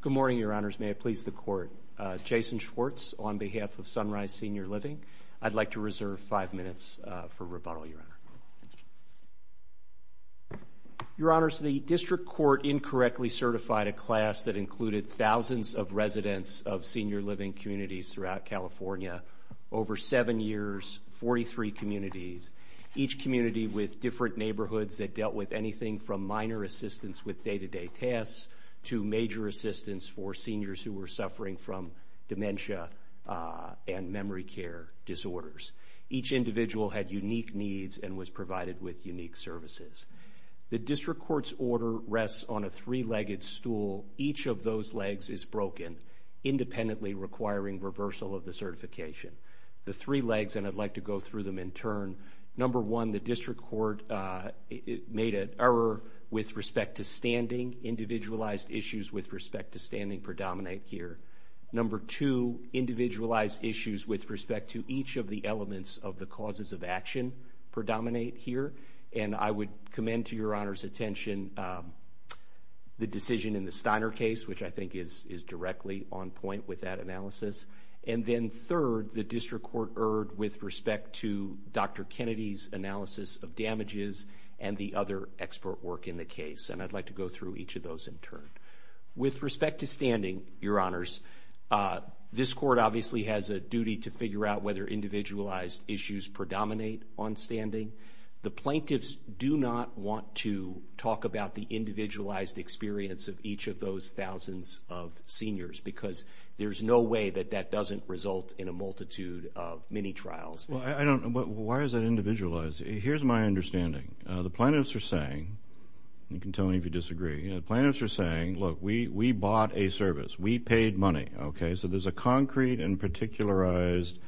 Good morning, Your Honors. May it please the Court. Jason Schwartz on behalf of Sunrise Senior Living. I'd like to reserve five minutes for rebuttal, Your Honor. Your Honors, the District Court incorrectly certified a class that included thousands of residents of senior living communities throughout California over seven years, 43 communities, each community with different neighborhoods that dealt with anything from minor assistance with day-to-day tasks to major assistance for seniors who were suffering from dementia and memory care disorders. Each individual had unique needs and was provided with unique services. The District Court's order rests on a three-legged stool. Each of those legs is broken, independently requiring reversal of the certification. The three legs, and I'd like to go through them in turn. Number one, the District Court made an error with respect to standing. Individualized issues with respect to standing predominate here. Number two, individualized issues with respect to each of the elements of the causes of action predominate here. And I would commend to Your Honor's attention the decision in the Steiner case, which I think is directly on point with that analysis. And then third, the District Court erred with respect to Dr. Kennedy's analysis of damages and the other expert work in the case. And I'd like to go through each of those in turn. With respect to standing, Your Honors, this Court obviously has a duty to figure out whether individualized issues predominate on standing. The plaintiffs do not want to talk about the individualized experience of each of those thousands of seniors because there's no way that that doesn't result in a multitude of mini-trials. Well, I don't know, but why is that individualized? Here's my understanding. The plaintiffs are saying, you can tell me if you disagree, the plaintiffs are saying, look, we bought a service, we paid money, okay? So there's a concrete and particularized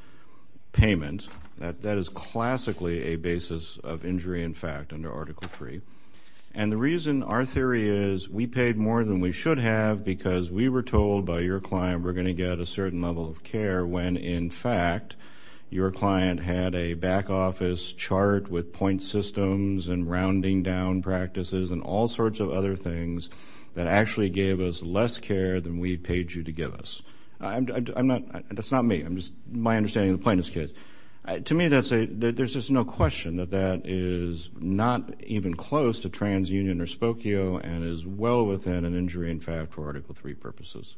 payment that is classically a basis of injury in fact under Article III. And the reason our theory is we paid more than we should have because we were told by your client we're going to get a certain level of care when, in fact, your client had a back office chart with point systems and rounding down practices and all sorts of other things that actually gave us less care than we paid you to give us. That's not me. That's my understanding of the plaintiff's case. To me, there's just no question that that is not even close to transunion or spokio and is well within an injury in fact for Article III purposes.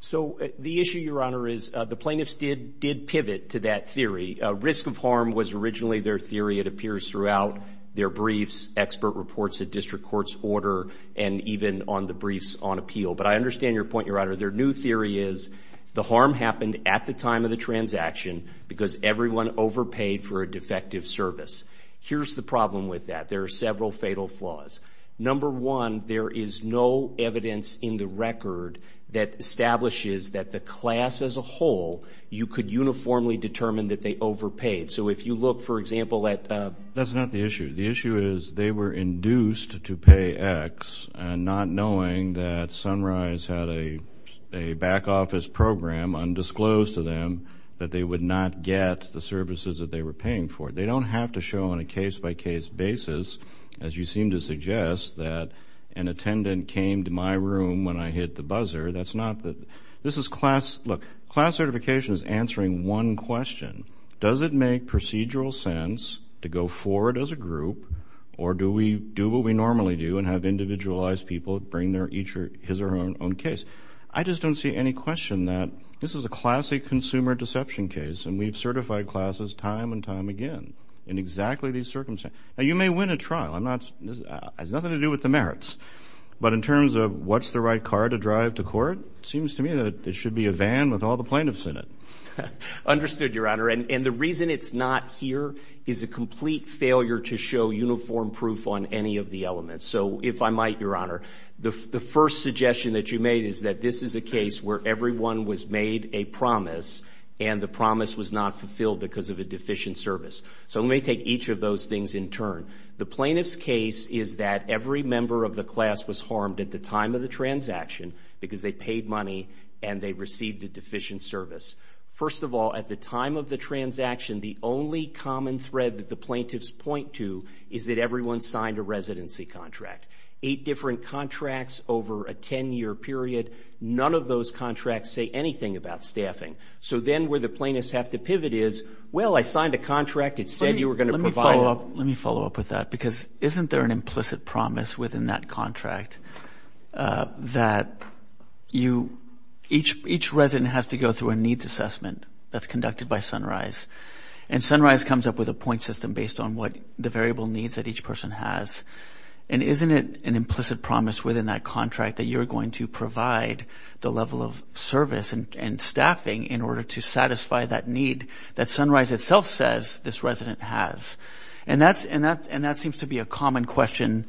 So the issue, Your Honor, is the plaintiffs did pivot to that theory. Risk of harm was originally their theory. It appears throughout their briefs, expert reports at district courts order and even on the briefs on appeal. But I understand your point, Your Honor. Their new theory is the harm happened at the time of the transaction because everyone overpaid for a defective service. Here's the problem with that. There are several fatal flaws. Number one, there is no evidence in the record that establishes that the class as a whole, you could uniformly determine that they overpaid. So if you look, for example, at... That's not the issue. The issue is they were induced to pay X not knowing that Sunrise had a back office program undisclosed to them that they would not get the services that they were paying for. They don't have to show on a case-by-case basis, as you seem to suggest, that an attendant came to my room when I hit the buzzer. That's not the... This is class... Look, class certification is answering one question. Does it make procedural sense to go forward as a group or do we do what we normally do and have individualized people bring their each or his or her own case? I just don't see any question that this is a classic consumer deception case and we've certified classes time and time again in exactly these circumstances. Now, you may win a trial. I'm not... It has nothing to do with the merits. But in terms of what's the right car to drive to court, it seems to me that it should be a van with all the plaintiffs in it. Understood, Your Honor. And the reason it's not here is a complete failure to show uniform proof on any of the elements. So if I might, Your Honor, the first suggestion that you made is that this is a case where everyone was made a promise and the promise was not those things in turn. The plaintiff's case is that every member of the class was harmed at the time of the transaction because they paid money and they received a deficient service. First of all, at the time of the transaction, the only common thread that the plaintiffs point to is that everyone signed a residency contract. Eight different contracts over a 10-year period, none of those contracts say anything about staffing. So then where the plaintiffs have to pivot is, well, I signed a contract. It said you were going to provide Let me follow up with that because isn't there an implicit promise within that contract that each resident has to go through a needs assessment that's conducted by Sunrise? And Sunrise comes up with a point system based on the variable needs that each person has. And isn't it an implicit promise within that contract that you're going to provide the level of service and staffing in order to satisfy that need that Sunrise itself says this resident has? And that seems to be a common question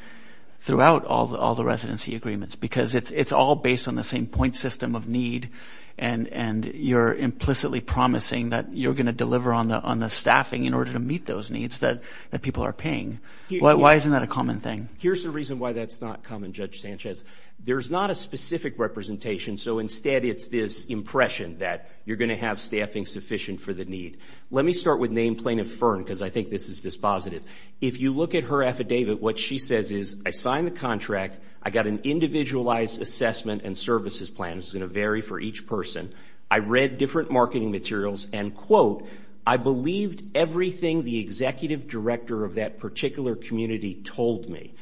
throughout all the residency agreements because it's all based on the same point system of need and you're implicitly promising that you're going to deliver on the staffing in order to meet those needs that people are paying. Why isn't that a common thing? Here's the reason why that's not common, Judge Sanchez. There's not a specific representation, so instead it's this impression that you're going to have staffing sufficient for the firm because I think this is dispositive. If you look at her affidavit, what she says is I signed the contract. I got an individualized assessment and services plan. It's going to vary for each person. I read different marketing materials and, quote, I believed everything the executive director of that particular community told me.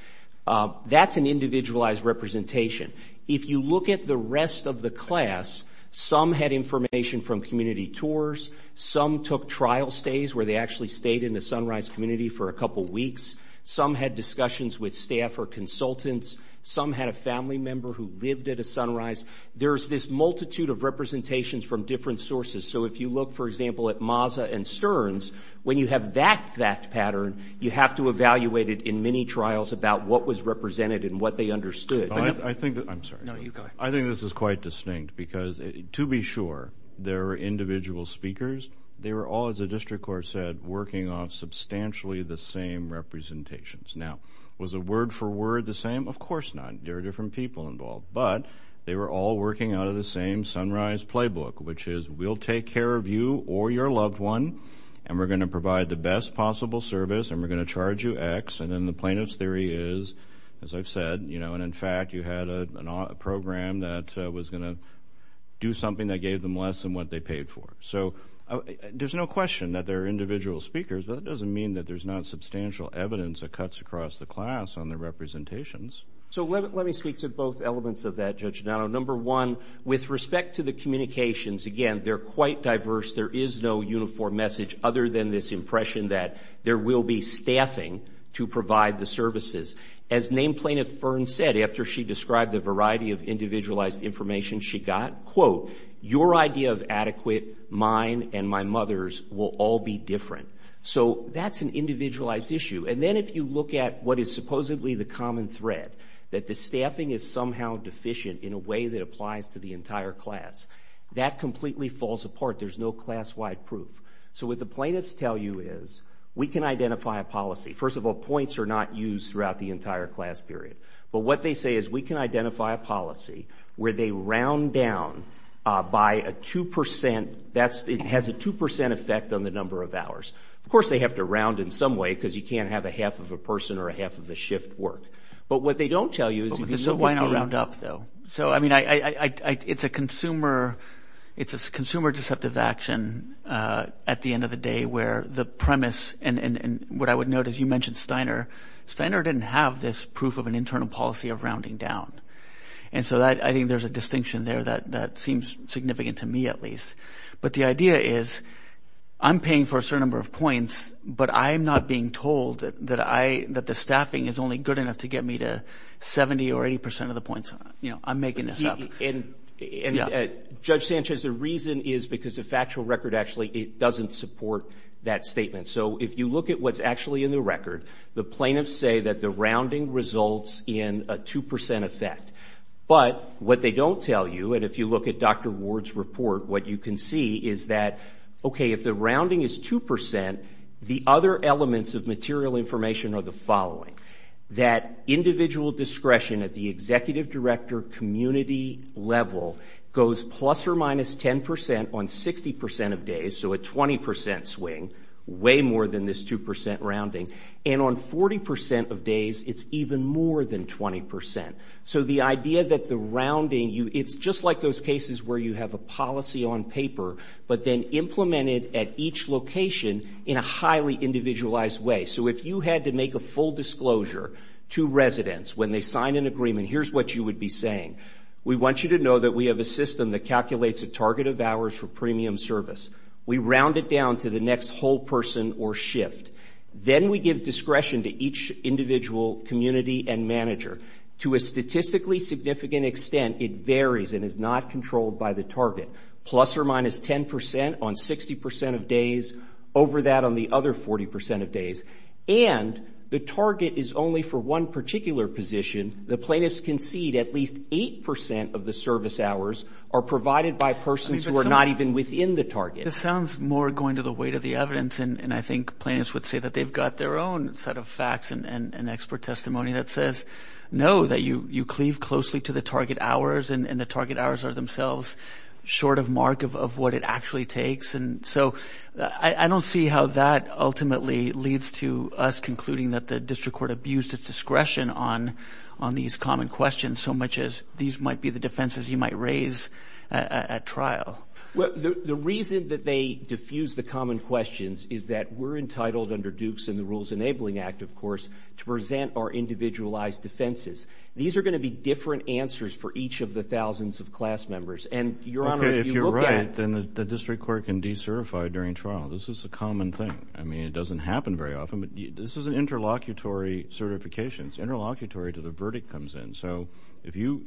That's an individualized representation. If you look at the rest of the class, some had information from community tours. Some took trial stays where they actually stayed in the Sunrise community for a couple of weeks. Some had discussions with staff or consultants. Some had a family member who lived at a Sunrise. There's this multitude of representations from different sources. So if you look, for example, at Mazza and Stearns, when you have that fact pattern, you have to evaluate it in many trials about what was represented and what they understood. I think this is quite distinct because, to be sure, there were individual speakers. They were all, as the district court said, working on substantially the same representations. Now, was it word for word the same? Of course not. There are different people involved, but they were all working out of the same Sunrise playbook, which is we'll take care of you or your loved one and we're going to provide the best possible service and we're you had a program that was going to do something that gave them less than what they paid for. So there's no question that there are individual speakers, but that doesn't mean that there's not substantial evidence that cuts across the class on the representations. So let me speak to both elements of that, Judge Donato. Number one, with respect to the communications, again, they're quite diverse. There is no uniform message other than this impression that there will be staffing to provide the services. As named plaintiff Fern said after she described the variety of individualized information she got, quote, your idea of adequate, mine and my mother's will all be different. So that's an individualized issue. And then if you look at what is supposedly the common thread, that the staffing is somehow deficient in a way that applies to the entire class, that completely falls apart. There's no class-wide proof. So what the plaintiffs tell you is we can identify a policy. First of all, points are not used throughout the entire class period. But what they say is we can identify a policy where they round down by a 2 percent. That has a 2 percent effect on the number of hours. Of course, they have to round in some way because you can't have a half of a person or a half of a shift work. But what they don't tell you is you can still get paid. But why not round up, though? So, I mean, it's a consumer deceptive action at the end of the day where the premise and what I would note is you mentioned Steiner. Steiner didn't have this proof of an internal policy of rounding down. And so I think there's a distinction there that seems significant to me, at least. But the idea is I'm paying for a certain number of points, but I'm not being told that I that the staffing is only good enough to get me to 70 or 80 percent of the points. You know, I'm making this up. And Judge Sanchez, the reason is because the factual record actually doesn't support that statement. So if you look at what's actually in the record, the plaintiffs say that the rounding results in a 2 percent effect. But what they don't tell you, and if you look at Dr. Ward's report, what you can see is that, okay, if the rounding is 2 percent, the other elements of material information are the following. That individual discretion at the executive director community level goes plus or minus 10 percent on 60 percent of days, so a 20 percent swing, way more than this 2 percent rounding. And on 40 percent of days, it's even more than 20 percent. So the idea that the rounding, it's just like those cases where you have a policy on paper, but then implement it at each location in a highly individualized way. So if you had to make a full disclosure to residents when they sign an agreement, here's what you would be saying. We want you to know that we have a system that calculates a target of hours for premium service. We round it down to the next whole person or shift. Then we give discretion to each individual community and manager. To a statistically significant extent, it varies and is not controlled by the target. Plus or minus 10 percent on 60 percent of days, over that on the other 40 percent of location, the plaintiffs concede at least 8 percent of the service hours are provided by persons who are not even within the target. This sounds more going to the weight of the evidence, and I think plaintiffs would say that they've got their own set of facts and expert testimony that says, no, that you cleave closely to the target hours and the target hours are themselves short of mark of what it actually takes. And so I don't see how that ultimately leads to us concluding that the district court abused its discretion on these common questions so much as these might be the defenses you might raise at trial. The reason that they diffuse the common questions is that we're entitled under Dukes and the Rules Enabling Act, of course, to present our individualized defenses. These are going to be different answers for each of the thousands of class members. And, Your Honor, if you look at- Okay, if you're right, then the district court can decertify during trial. This is a common thing. I mean, it doesn't happen very often, but this is an interlocutory certification. It's interlocutory until the verdict comes in. So if you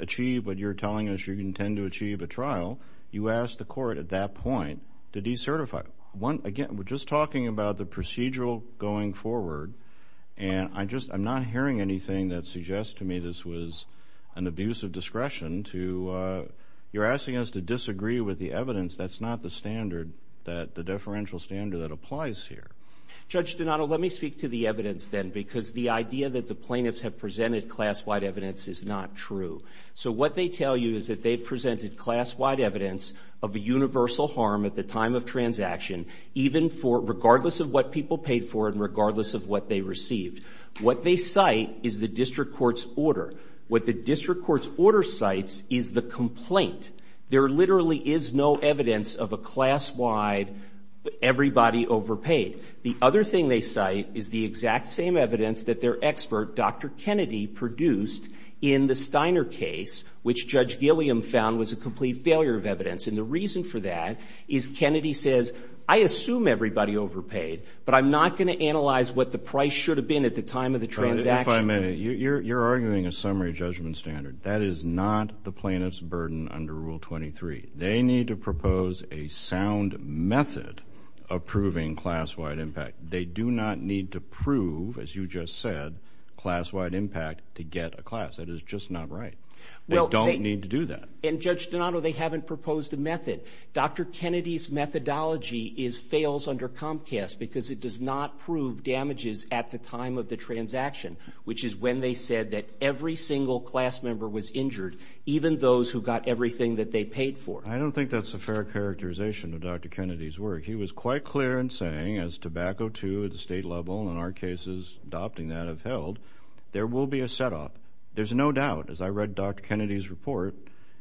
achieve what you're telling us you intend to achieve at trial, you ask the court at that point to decertify. Again, we're just talking about the procedural going forward, and I'm not hearing anything that suggests to me this was an abuse of discretion to- you're asking us to disagree with the that applies here. Judge Donato, let me speak to the evidence, then, because the idea that the plaintiffs have presented class-wide evidence is not true. So what they tell you is that they presented class-wide evidence of a universal harm at the time of transaction, even for- regardless of what people paid for and regardless of what they received. What they cite is the district court's order. What the district court's order cites is the complaint. There literally is no evidence of a class-wide everybody overpaid. The other thing they cite is the exact same evidence that their expert, Dr. Kennedy, produced in the Steiner case, which Judge Gilliam found was a complete failure of evidence. And the reason for that is Kennedy says, I assume everybody overpaid, but I'm not going to analyze what the price should have been at the time of the transaction. If I may, you're arguing a summary judgment standard. That is not the plaintiff's degree. They need to propose a sound method of proving class-wide impact. They do not need to prove, as you just said, class-wide impact to get a class. That is just not right. They don't need to do that. And Judge Donato, they haven't proposed a method. Dr. Kennedy's methodology fails under Comcast because it does not prove damages at the time of the transaction, which is when they said that every single class member was injured, even those who got everything that they paid for. I don't think that's a fair characterization of Dr. Kennedy's work. He was quite clear in saying, as Tobacco II at the state level, and our cases adopting that have held, there will be a set-off. There's no doubt, as I read Dr. Kennedy's report,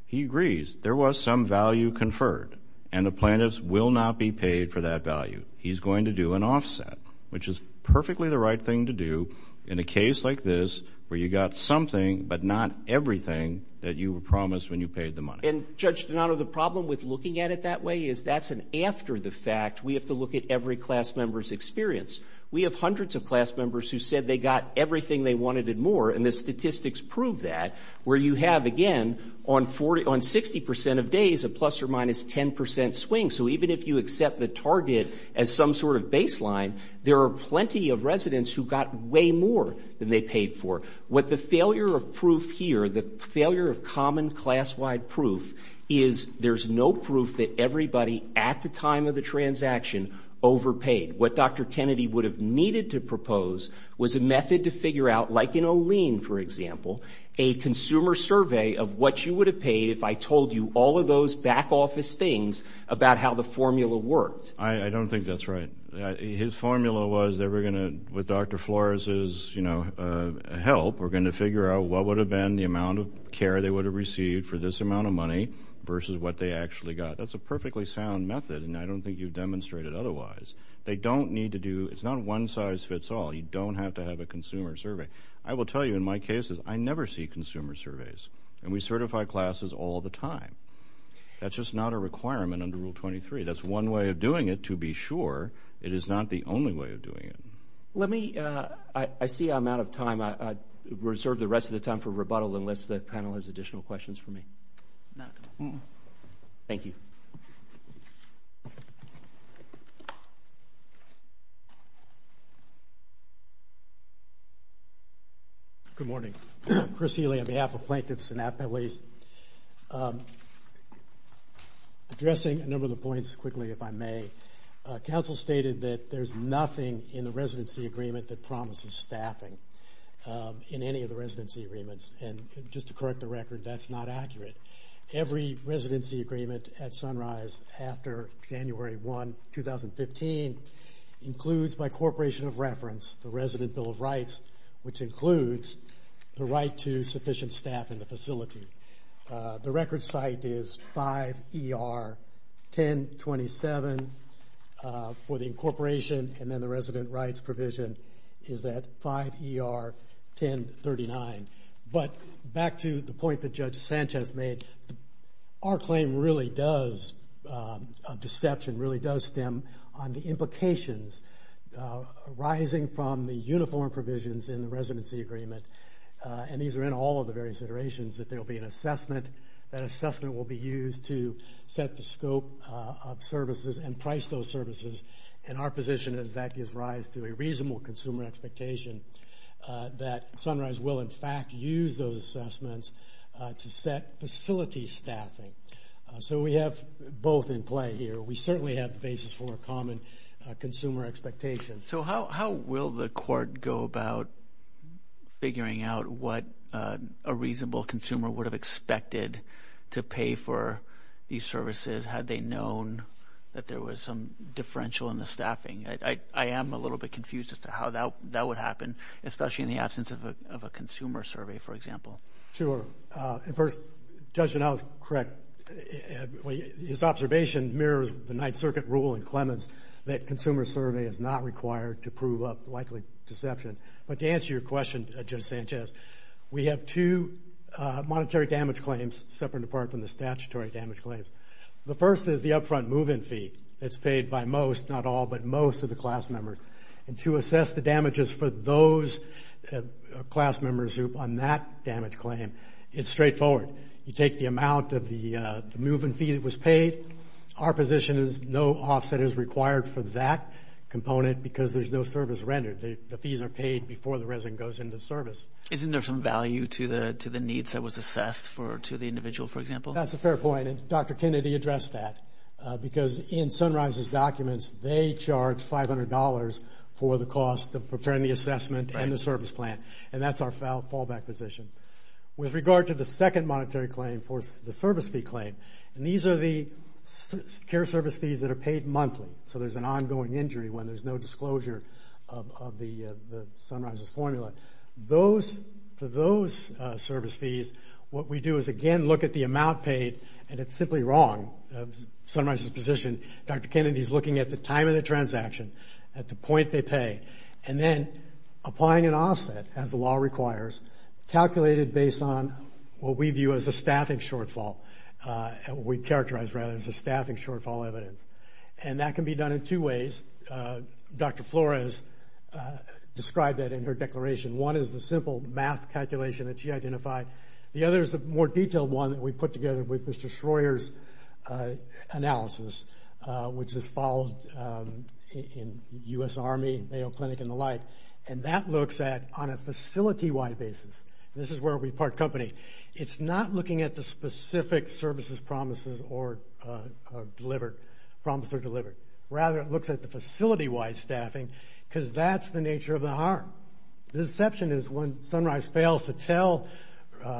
he agrees there was some value conferred, and the plaintiffs will not be paid for that value. He's going to do an offset, which is perfectly the right thing to do in a case like this where you got something but not everything that you were promised when you paid the money. And, Judge Donato, the problem with looking at it that way is that's an after-the-fact. We have to look at every class member's experience. We have hundreds of class members who said they got everything they wanted and more, and the statistics prove that, where you have, again, on 60 percent of days, a plus or minus 10 percent swing. So even if you accept the target as some sort of baseline, there are plenty of residents who got way more than they paid for. What the failure of proof here, the failure of common class-wide proof, is there's no proof that everybody at the time of the transaction overpaid. What Dr. Kennedy would have needed to propose was a method to figure out, like in Olean, for example, a consumer survey of what you would have paid if I told you all of those back-office things about how the formula worked. I don't think that's right. His formula was that we're going to, with Dr. Flores's, you know, help, we're going to figure out what would have been the amount of care they would have received for this amount of money versus what they actually got. That's a perfectly sound method, and I don't think you've demonstrated otherwise. They don't need to do, it's not a one-size-fits-all. You don't have to have a consumer survey. I will tell you, in my cases, I never see consumer surveys, and we certify classes all the time. That's just not a requirement under Rule 23. That's one way of doing it, to be sure. It is not the only way of doing it. Let me, I see I'm out of time. I reserve the rest of the time for rebuttal unless the panel has additional questions for me. Thank you. Good morning. Chris Healy on behalf of plaintiffs and appellees. Addressing a number of the points quickly, if I may. Council stated that there's nothing in the residency agreement that promises staffing in any of the residency agreements, and just to correct the record, that's not accurate. Every residency agreement at Sunrise after January 1, 2015, includes, by corporation of reference, the Resident Bill of Rights, which includes the right to sufficient staff in the facility. The record site is 5 ER 1027 for the incorporation, and then the resident rights provision is at 5 ER 1039. But back to the point that Judge Sanchez made, our claim really does, of deception, really does stem on the implications arising from the uniform provisions in the residency agreement, and these are in all of the various iterations, that there will be an assessment, that assessment will be used to set the scope of services and price those services, and our position is that gives rise to a reasonable consumer expectation that Sunrise will, in fact, use those assessments to set facility staffing. So we have both in play here. We certainly have the basis for a common consumer expectation. So how will the court go about figuring out what a reasonable consumer would have expected to pay for these services, had they known that there was some differential in the staffing? I am a little bit confused as to how that would happen, especially in the absence of a consumer survey, for example. Sure, and there is a strict rule in Clemens that consumer survey is not required to prove up likely deception. But to answer your question, Judge Sanchez, we have two monetary damage claims separate and apart from the statutory damage claims. The first is the upfront move-in fee that's paid by most, not all, but most of the class members, and to assess the damages for those class members on that damage claim, it's straightforward. You take the amount of the move-in fee that was paid. Our position is no offset is required for that component because there's no service rendered. The fees are paid before the resident goes into service. Isn't there some value to the needs that was assessed to the individual, for example? That's a fair point, and Dr. Kennedy addressed that, because in Sunrise's documents, they charge $500 for the cost of preparing the assessment and the service plan, and that's our fallback position. With regard to the second monetary claim for the service fee claim, and these are the care service fees that are paid monthly, so there's an ongoing injury when there's no disclosure of the Sunrise's formula. For those service fees, what we do is, again, look at the amount paid, and it's simply wrong. Sunrise's position, Dr. Kennedy's looking at the time of the transaction, at the point they pay, and then applying an offset as the calculated based on what we view as a staffing shortfall. We characterize, rather, as a staffing shortfall evidence, and that can be done in two ways. Dr. Flores described that in her declaration. One is the simple math calculation that she identified. The other is a more detailed one that we put together with Mr. Schroer's analysis, which is followed in U.S. Army, Mayo Clinic, and the like, and that looks at, on a facility-wide basis, this is where we part company, it's not looking at the specific services promised or delivered. Rather, it looks at the facility-wide staffing, because that's the nature of the harm. The deception is when Sunrise fails to tell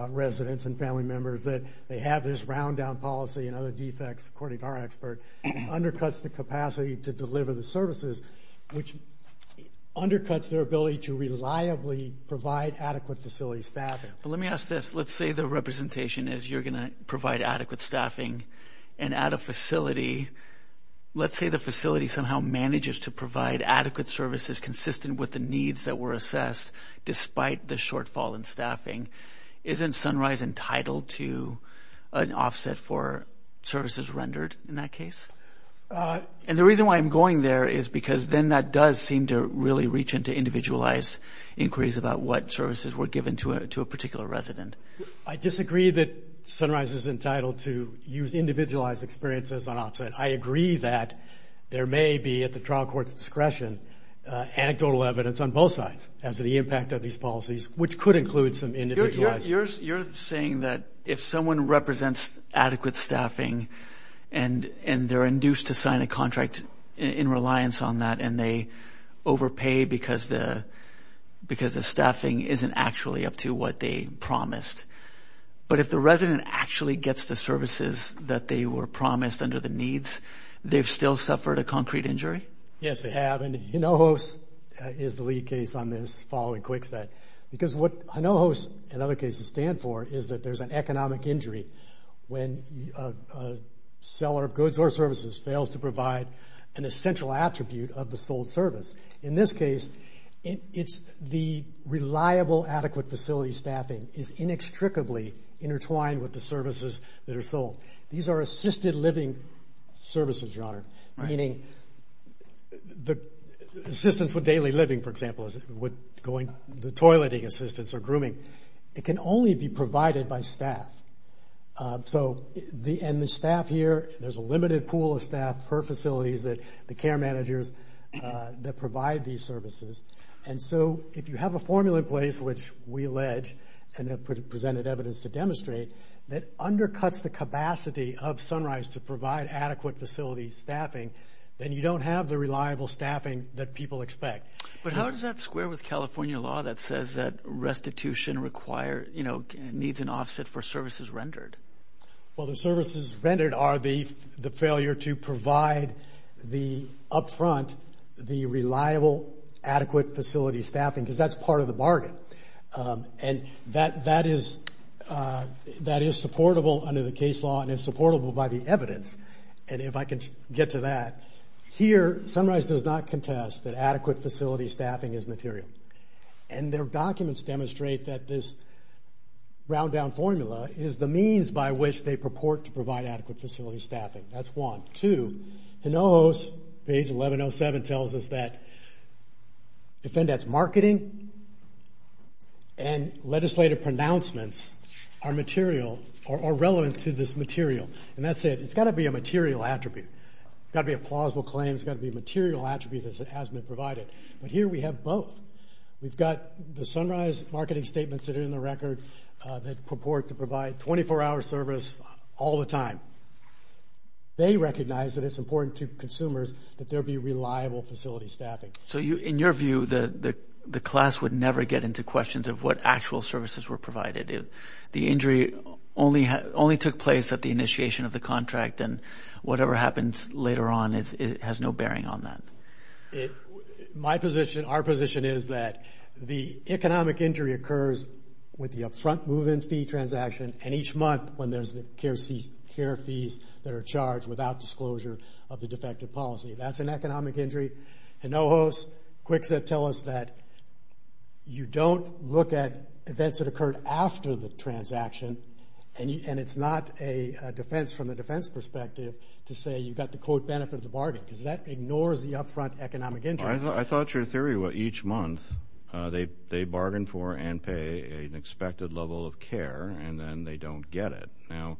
residents and family members that they have this round-down policy and other defects, according to our expert, undercuts the capacity to deliver the services, which undercuts their ability to reliably provide adequate facility staffing. Let me ask this. Let's say the representation is you're going to provide adequate staffing, and at a facility, let's say the facility somehow manages to provide adequate services consistent with the needs that were assessed, despite the shortfall in staffing. Isn't Sunrise entitled to an offset for services rendered in that case? And the reason why I'm going there is because then that does seem to really reach into individualized inquiries about what services were given to a particular resident. I disagree that Sunrise is entitled to use individualized experiences on offset. I agree that there may be, at the trial court's discretion, anecdotal evidence on both sides as to the someone represents adequate staffing, and they're induced to sign a contract in reliance on that, and they overpay because the staffing isn't actually up to what they promised, but if the resident actually gets the services that they were promised under the needs, they've still suffered a concrete injury? Yes, they have, and Hinojos is the lead case on this following Kwikset, because what Hinojos and other cases stand for is that there's an economic injury when a seller of goods or services fails to provide an essential attribute of the sold service. In this case, the reliable adequate facility staffing is inextricably intertwined with the services that are sold. These are assisted living services, Your Honor, meaning the assistance with daily living, for example, the toileting assistance or grooming. It can only be provided by staff, so the staff here, there's a limited pool of staff per facilities that the care managers that provide these services, and so if you have a formula in place, which we allege and have presented evidence to demonstrate, that undercuts the capacity of Sunrise to provide adequate facility staffing, then you don't have the reliable staffing that people expect. But how does that square with California law that says that restitution require, you know, needs an offset for services rendered? Well, the services rendered are the failure to provide the up front, the reliable adequate facility staffing, because that's part of the bargain, and that is supportable under the case law and is supportable by the evidence, and if I can get to that, here Sunrise does not contest that adequate facility staffing is material, and their documents demonstrate that this round down formula is the means by which they purport to provide adequate facility staffing. That's one. Two, Hinojos, page 1107, tells us that defendants' marketing and legislative pronouncements are material, are relevant to this material, and that's it. It's got to be a material attribute. It's got to be a plausible claim. It's got to be a material attribute as has been provided, but here we have both. We've got the Sunrise marketing statements that are in the record that purport to provide 24-hour service all the time. They recognize that it's important to consumers that there be reliable facility staffing. So in your view, the class would never get into questions of what actual services were provided. The injury only took place at the initiation of the contract, and whatever happens later on has no bearing on that. My position, our position is that the economic injury occurs with the up front move-in fee transaction, and each month when there's the care fees that are charged without disclosure of the defective policy. That's an economic injury. Hinojos, Kwikset tell us that you don't look at events that occurred after the transaction, and it's not a defense from a defense perspective to say you've got to quote benefit of the bargain, because that ignores the up front economic injury. I thought your theory was each month they bargain for and pay an expected level of care, and then they don't get it. Now,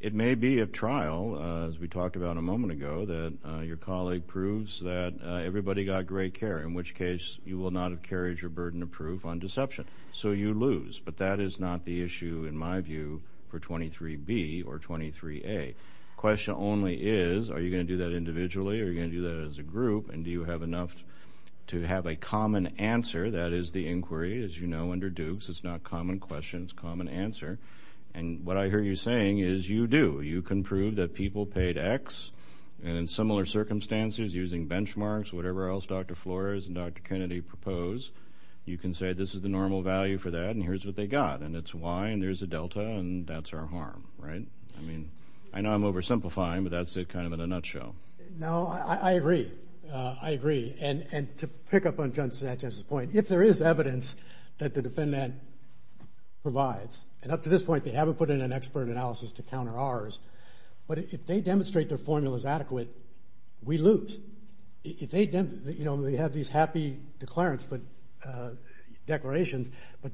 it may be a trial, as we talked about a moment ago, that your colleague approves that everybody got great care, in which case you will not have carried your burden of proof on deception. So you lose, but that is not the issue in my view for 23B or 23A. The question only is, are you going to do that individually, or are you going to do that as a group, and do you have enough to have a common answer? That is the inquiry, as you know, under Dukes, it's not common questions, it's common answer. And what I hear you saying is you do, you can prove that people paid X, and in similar circumstances using benchmarks, whatever else Dr. Flores and Dr. Kennedy propose, you can say this is the normal value for that, and here's what they got, and it's Y, and there's a delta, and that's our harm, right? I mean, I know I'm oversimplifying, but that's it kind of in a nutshell. No, I agree, I agree, and to pick up on Judge Satchez's point, if there is evidence that the defendant provides, and up to this point they haven't put in an expert analysis to counter ours, but if they demonstrate their formula is adequate, we lose. If they have these happy declarations, but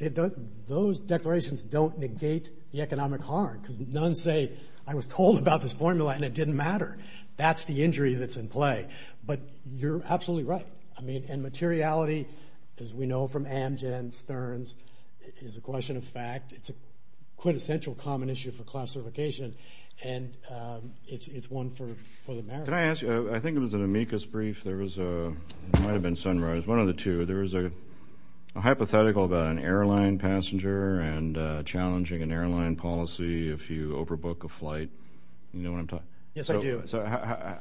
those declarations don't negate the economic harm, because none say, I was told about this formula and it didn't matter. That's the injury that's in play, but you're absolutely right. I mean, and materiality, as we know from Amgen, Stearns, is a question of fact. It's a quintessential common issue for classification, and it's one for America. Can I ask you, I think it was an amicus brief, there was a, might have been sunrise, one of the two, there was a hypothetical about an airline passenger, and challenging an airline policy if you overbook a flight, you know what I'm talking about? Yes, so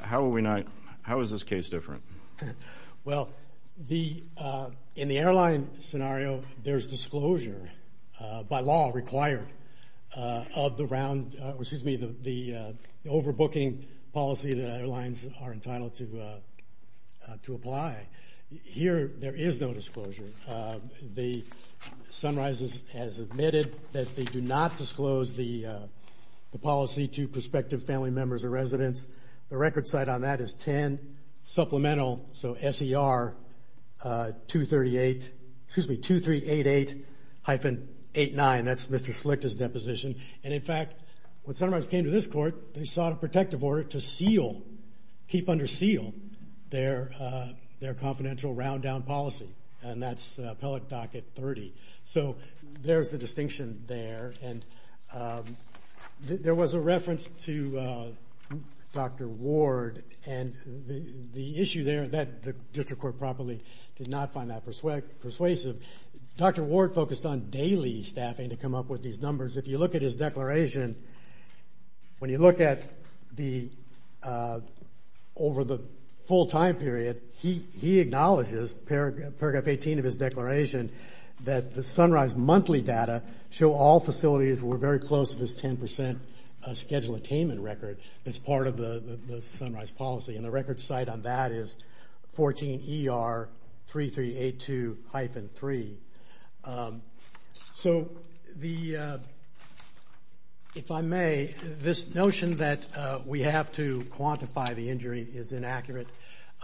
how are we not, how is this case different? Well, the, in the airline scenario, there's disclosure by law required of the round, excuse me, the overbooking policy that airlines are entitled to apply. Here, there is no disclosure. The Sunrises has admitted that they do not The record site on that is 10 supplemental, so SER 238, excuse me, 2388-89, that's Mr. Slick's deposition, and in fact, when Sunrises came to this court, they sought a protective order to seal, keep under seal, their confidential round down policy, and that's appellate docket 30. There's the distinction there, and there was a reference to Dr. Ward, and the issue there, that district court probably did not find that persuasive. Dr. Ward focused on daily staffing to come up with these numbers. If you look at his declaration, when you look at the, over the full time period, he acknowledges, paragraph 18 of his declaration, that the Sunrise monthly data show all facilities were very close to this 10% schedule attainment record that's part of the Sunrise policy, and the record site on that is 14 ER 3382-3. So the, if I may, this notion that we have to quantify the injury is inaccurate.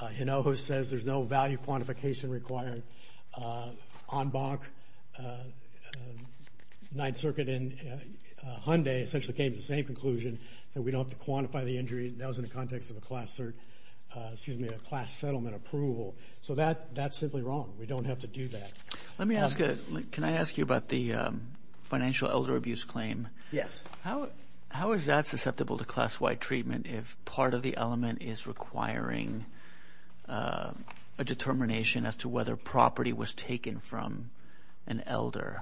Hinojo says there's no value quantification required. On Bonk, Ninth Circuit, and Hyundai essentially came to the same conclusion, that we don't have to quantify the injury. That was in the context of a class cert, excuse me, a class settlement approval. So that, that's simply wrong. We don't have to do that. Let me ask, can I ask you about the financial elder abuse claim? Yes. How, how is that susceptible to class-wide treatment if part of the element is requiring a determination as to whether property was taken from an elder?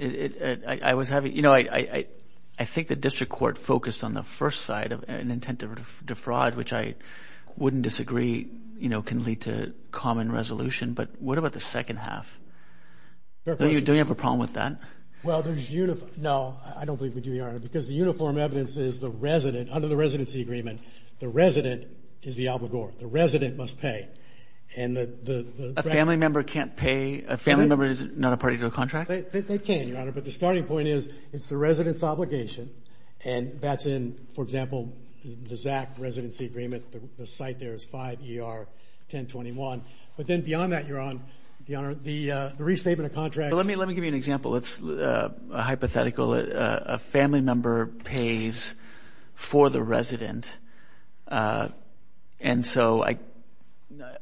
I was having, you know, I, I think the district court focused on the first side of an intent to defraud, which I wouldn't disagree, you know, can lead to common resolution. But what about the second half? Do you have a problem with that? Well, there's, no, I don't believe we do, Your Honor, because the uniform evidence is the resident, under the residency agreement, the resident is the obligor. The resident must pay. And the, the family member can't pay, a family member is not a part of your contract? They can, Your Honor, but the starting point is, it's the resident's obligation, and that's in, for example, the Zach residency agreement, the site there is 5 ER 1021. But then beyond that, Your Honor, the, the restatement of contracts. Let me, let me give you an example. It's a hypothetical. A family member pays for the resident. And so I,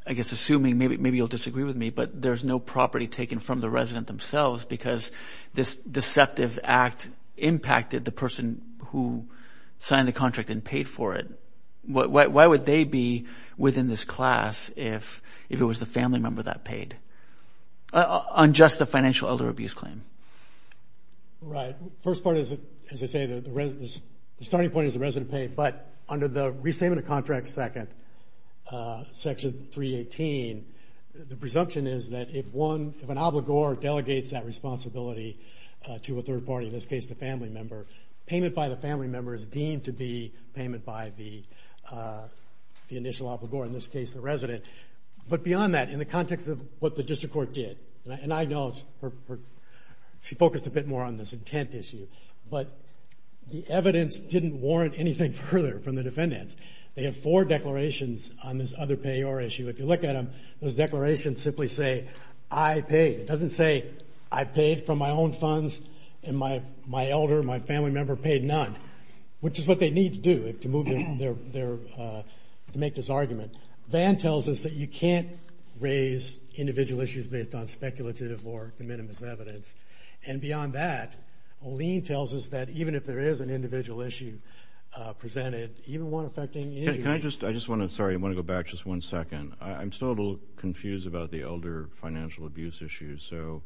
I guess assuming, maybe, maybe you'll disagree with me, but there's no property taken from the resident themselves because this deceptive act impacted the person who signed the contract and paid for it. What, why would they be within this class if, if it was the family member that paid on just a financial elder abuse claim? Right. First part is, as I say, the, the starting point is the resident paid, but under the restatement of contracts second, section 318, the presumption is that if one, if an obligor delegates that payment by the family member is deemed to be payment by the, the initial obligor, in this case, the resident. But beyond that, in the context of what the district court did, and I acknowledge, she focused a bit more on this intent issue, but the evidence didn't warrant anything further from the defendants. They have four declarations on this other payor issue. If you look at them, those declarations simply say, I paid. It doesn't say, I paid from my own funds and my, my elder, my family member paid none, which is what they need to do to move their, their, to make this argument. Van tells us that you can't raise individual issues based on speculative or minimalist evidence. And beyond that, Olene tells us that even if there is an individual issue presented, even one affecting... Can I just, I just want to, sorry, I want to go back just one second. I'm still a little confused about the elder financial abuse issue. So,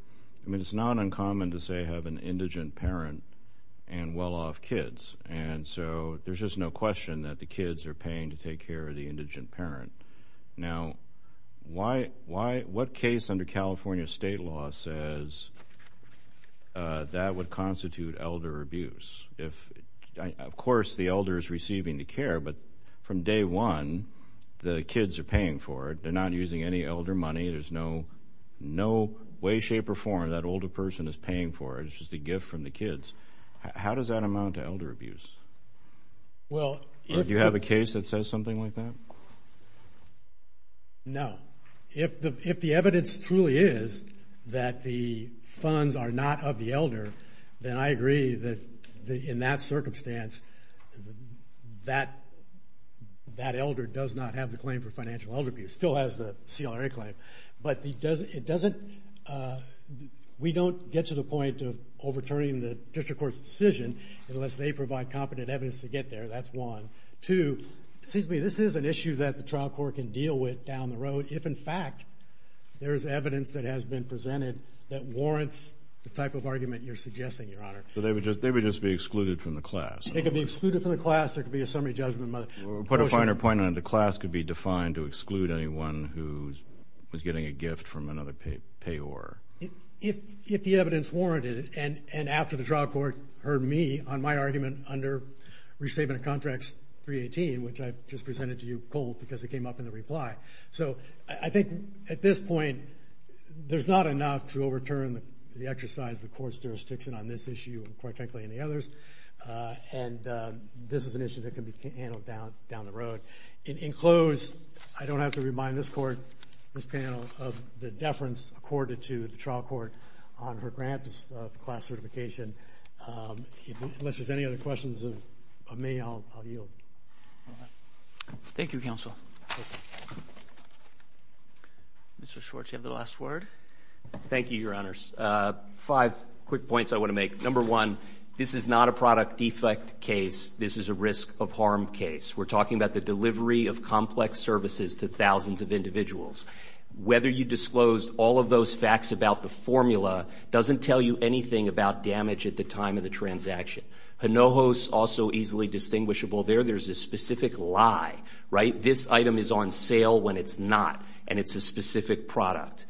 I mean, it's not common to, say, have an indigent parent and well-off kids. And so, there's just no question that the kids are paying to take care of the indigent parent. Now, why, why, what case under California state law says that would constitute elder abuse? If, of course, the elder is receiving the care, but from day one, the kids are paying for it. They're not using any elder money. There's no, no way, shape, or form that older person is paying for. It's just a gift from the kids. How does that amount to elder abuse? Well... Do you have a case that says something like that? No. If the, if the evidence truly is that the funds are not of the elder, then I agree that in that circumstance, that, that elder does not have the claim for financial elder abuse. Still has the claim, but he doesn't, it doesn't, we don't get to the point of overturning the district court's decision unless they provide competent evidence to get there. That's one. Two, it seems to me this is an issue that the trial court can deal with down the road if, in fact, there's evidence that has been presented that warrants the type of argument you're suggesting, Your Honor. So they would just, they would just be excluded from the class. They could be excluded from the class. There could be a summary judgment. Put a finer point on it. The class could be defined to exclude anyone who was getting a gift from another payor. If, if the evidence warranted it, and, and after the trial court heard me on my argument under Restatement of Contracts 318, which I just presented to you cold because it came up in the reply. So I think at this point there's not enough to overturn the exercise of the court's jurisdiction on this issue, and quite frankly any others, and this is an issue that can be handled down, down the road. In close, I don't have to remind this court, this panel, of the deference accorded to the trial court on her grant of class certification. Unless there's any other questions of me, I'll yield. Thank you, counsel. Mr. Schwartz, you have the last word. Thank you, Your Honors. Five quick points I want to make. Number one, this is not a product defect case. This is a risk of harm case. We're talking about the delivery of complex services to thousands of individuals. Whether you disclosed all of those facts about the formula doesn't tell you anything about damage at the time of the transaction. Hinojos, also easily distinguishable there, there's a specific lie, right? This item is on sale when it's not, and it's a specific product.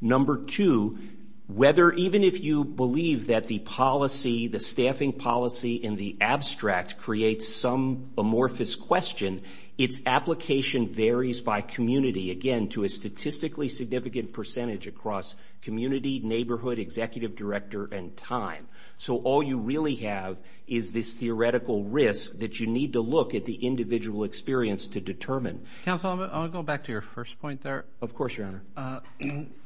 Number two, whether, even if you believe that the policy, the staffing policy, in the abstract creates some amorphous question, its application varies by community, again, to a statistically significant percentage across community, neighborhood, executive director, and time. So all you really have is this theoretical risk that you need to look at the individual experience to determine. Counsel, I'll go back to your first point there. Of course, Your Honor.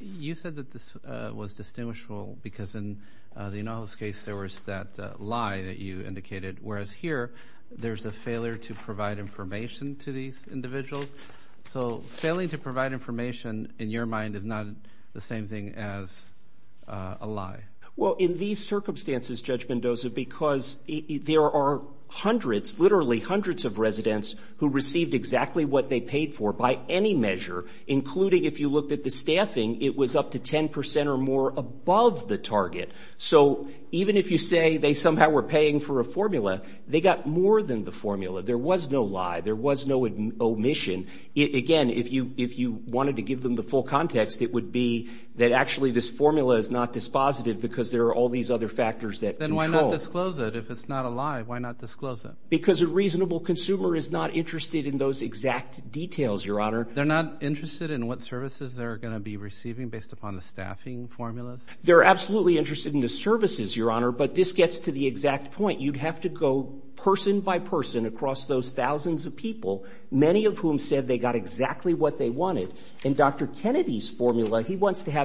You said that this was distinguishable because in the Hinojos case, there was that lie that you indicated, whereas here, there's a failure to provide information to these individuals. So failing to provide information in your mind is not the same thing as a lie. Well, in these circumstances, Judge Mendoza, because there are hundreds, literally hundreds of residents who received exactly what they paid for, by any measure, including if you looked at the staffing, it was up to 10% or more above the target. So even if you say they somehow were paying for a formula, they got more than the formula. There was no lie. There was no omission. Again, if you wanted to give them the full context, it would be that actually this formula is not dispositive because there are all these other factors that control. Then why not disclose it? If it's not a lie, why not disclose it? Because a reasonable consumer is not interested in those exact details, Your Honor. They're not interested in what services they're going to be receiving based upon the staffing formulas? They're absolutely interested in the services, Your Honor, but this gets to the exact point. You'd have to go person by person across those thousands of people, many of whom said they got exactly what they wanted. In Dr. Kennedy's formula, he wants to have it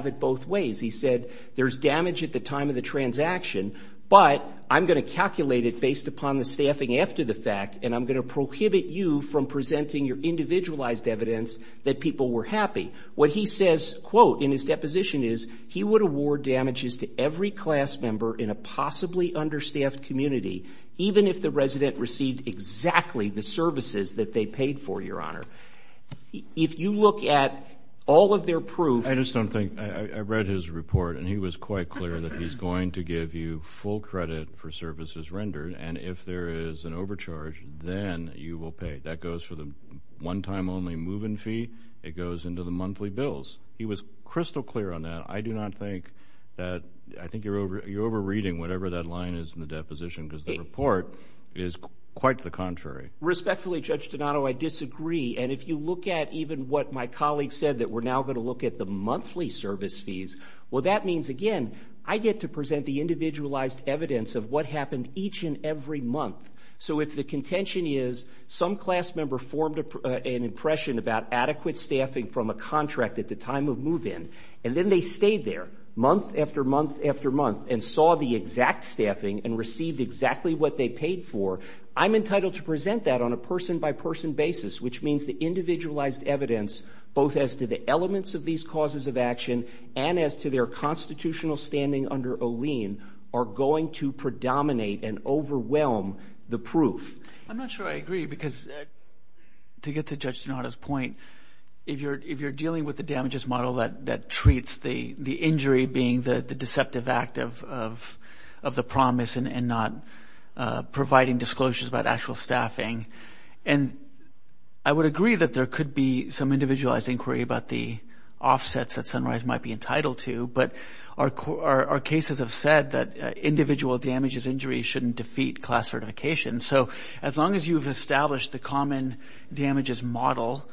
but I'm going to calculate it based upon the staffing after the fact, and I'm going to prohibit you from presenting your individualized evidence that people were happy. What he says, quote, in his deposition is he would award damages to every class member in a possibly understaffed community, even if the resident received exactly the services that they paid for, Your Honor. If you look at all of their I just don't think, I read his report and he was quite clear that he's going to give you full credit for services rendered, and if there is an overcharge, then you will pay. That goes for the one-time only move-in fee. It goes into the monthly bills. He was crystal clear on that. I do not think that, I think you're over-reading whatever that line is in the deposition because the report is quite the contrary. Respectfully, Judge Donato, I disagree, and if you look at even what my colleague said that we're now going to look at the monthly service fees, well, that means, again, I get to present the individualized evidence of what happened each and every month. So if the contention is some class member formed an impression about adequate staffing from a contract at the time of move-in, and then they stayed there month after month after month and saw the exact staffing and received exactly what they paid for, I'm entitled to present that on a person-by-person basis, which means the individualized evidence, both as to the elements of these causes of action and as to their constitutional standing under Olien, are going to predominate and overwhelm the proof. I'm not sure I agree because, to get to Judge Donato's point, if you're dealing with the damages model that treats the injury being the deceptive act of the promise and not providing disclosures about actual staffing, and I would agree that there could be some individualized inquiry about the offsets that Sunrise might be entitled to, but our cases have said that individual damages injuries shouldn't defeat class certification. So as long as you've established the common damages model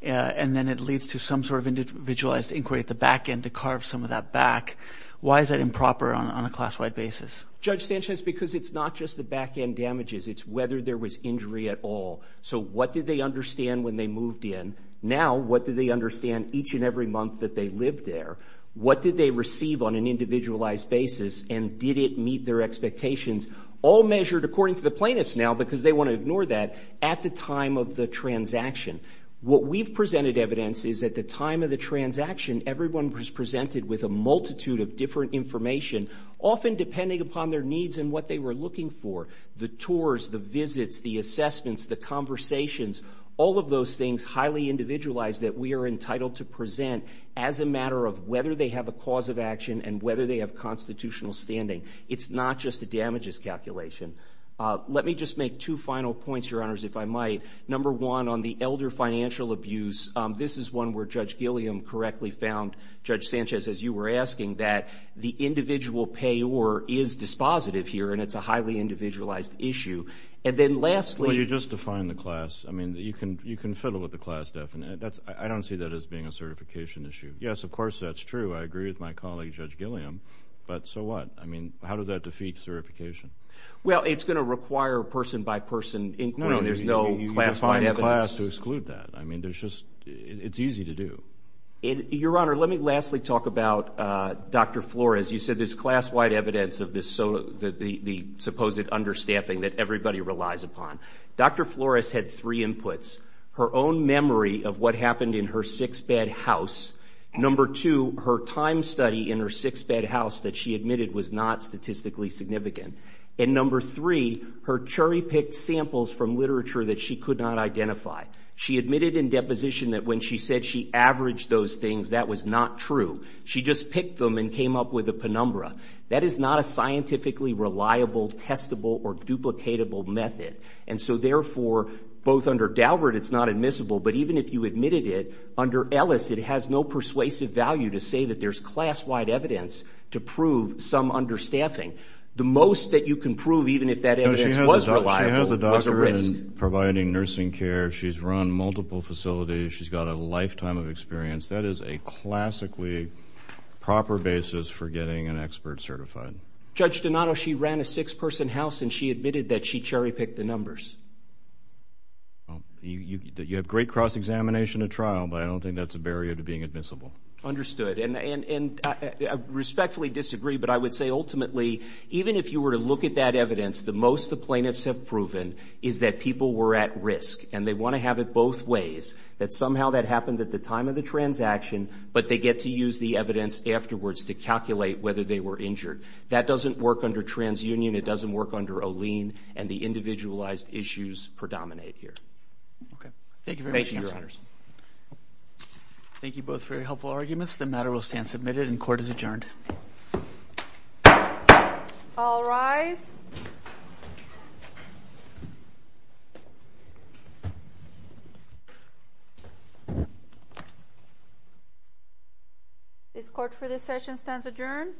and then it leads to some sort of individualized inquiry at the back end to carve some of that back, why is that improper on a class-wide basis? Judge Sanchez, because it's not just the back-end damages, it's whether there was injury at all. So what did they understand when they moved in? Now, what did they understand each and every month that they lived there? What did they receive on an individualized basis and did it meet their expectations? All measured according to the plaintiffs now, because they want to ignore that, at the time of the transaction. What we've presented evidence is at the time of the transaction, everyone was presented with a multitude of different information, often depending upon their needs and what they were looking for. The tours, the visits, the assessments, the conversations, all of those things highly individualized that we are entitled to present as a matter of whether they have a cause of action and whether they have constitutional standing. It's not just a damages calculation. Let me just make two final points, Your Honors, if I might. Number one, on the elder financial abuse, this is one where Judge Gilliam correctly found, Judge Sanchez, as you were asking, that the individual payor is dispositive here and it's a highly individualized issue. And then lastly... Well, you just defined the class. I mean, you can fiddle with the class definition. I don't see that as being a certification issue. Yes, of course, that's true. I agree with my colleague, Judge Gilliam, but so what? I mean, how does that defeat certification? Well, it's going to require person-by-person inquiry. There's no classified evidence. No, you define the class to exclude that. I mean, it's easy to do. Your Honor, let me lastly talk about Dr. Flores. You said there's class-wide evidence of the supposed understaffing that everybody relies upon. Dr. Flores had three inputs. Her own memory of what happened in her six-bed house. Number two, her time study in her six-bed house that she admitted was not statistically significant. And number three, her cherry-picked samples from literature that she could not identify. She admitted in deposition that when she said she averaged those things, that was not true. She just picked them and came up with a penumbra. That is not a scientifically reliable, testable, or duplicatable method. And so therefore, both under Daubert, it's not admissible, but even if you admitted it, under Ellis, it has no persuasive value to say that there's class-wide evidence to prove some understaffing. The most that you can prove, even if that evidence was reliable, was a risk. She has a doctorate in providing nursing care. She's run multiple facilities. She's got a lifetime of experience. That is a classically proper basis for getting an expert certified. Judge Donato, she ran a six-person house, and she admitted that she cherry-picked the numbers. You have great cross-examination at trial, but I don't think that's a barrier to being admissible. Understood, and I respectfully disagree, but I would say ultimately, even if you were to look at that evidence, the most the plaintiffs have proven is that people were at risk, and they want to have it both ways, that somehow that happens at the time of the transaction, but they get to use the evidence afterwards to calculate whether they were injured. That doesn't work under TransUnion. It doesn't work under OLEAN, and the individualized issues predominate here. Thank you, Your Honors. Thank you both for your helpful arguments. The matter will stand submitted, and court is adjourned. All rise. This court for this session stands adjourned.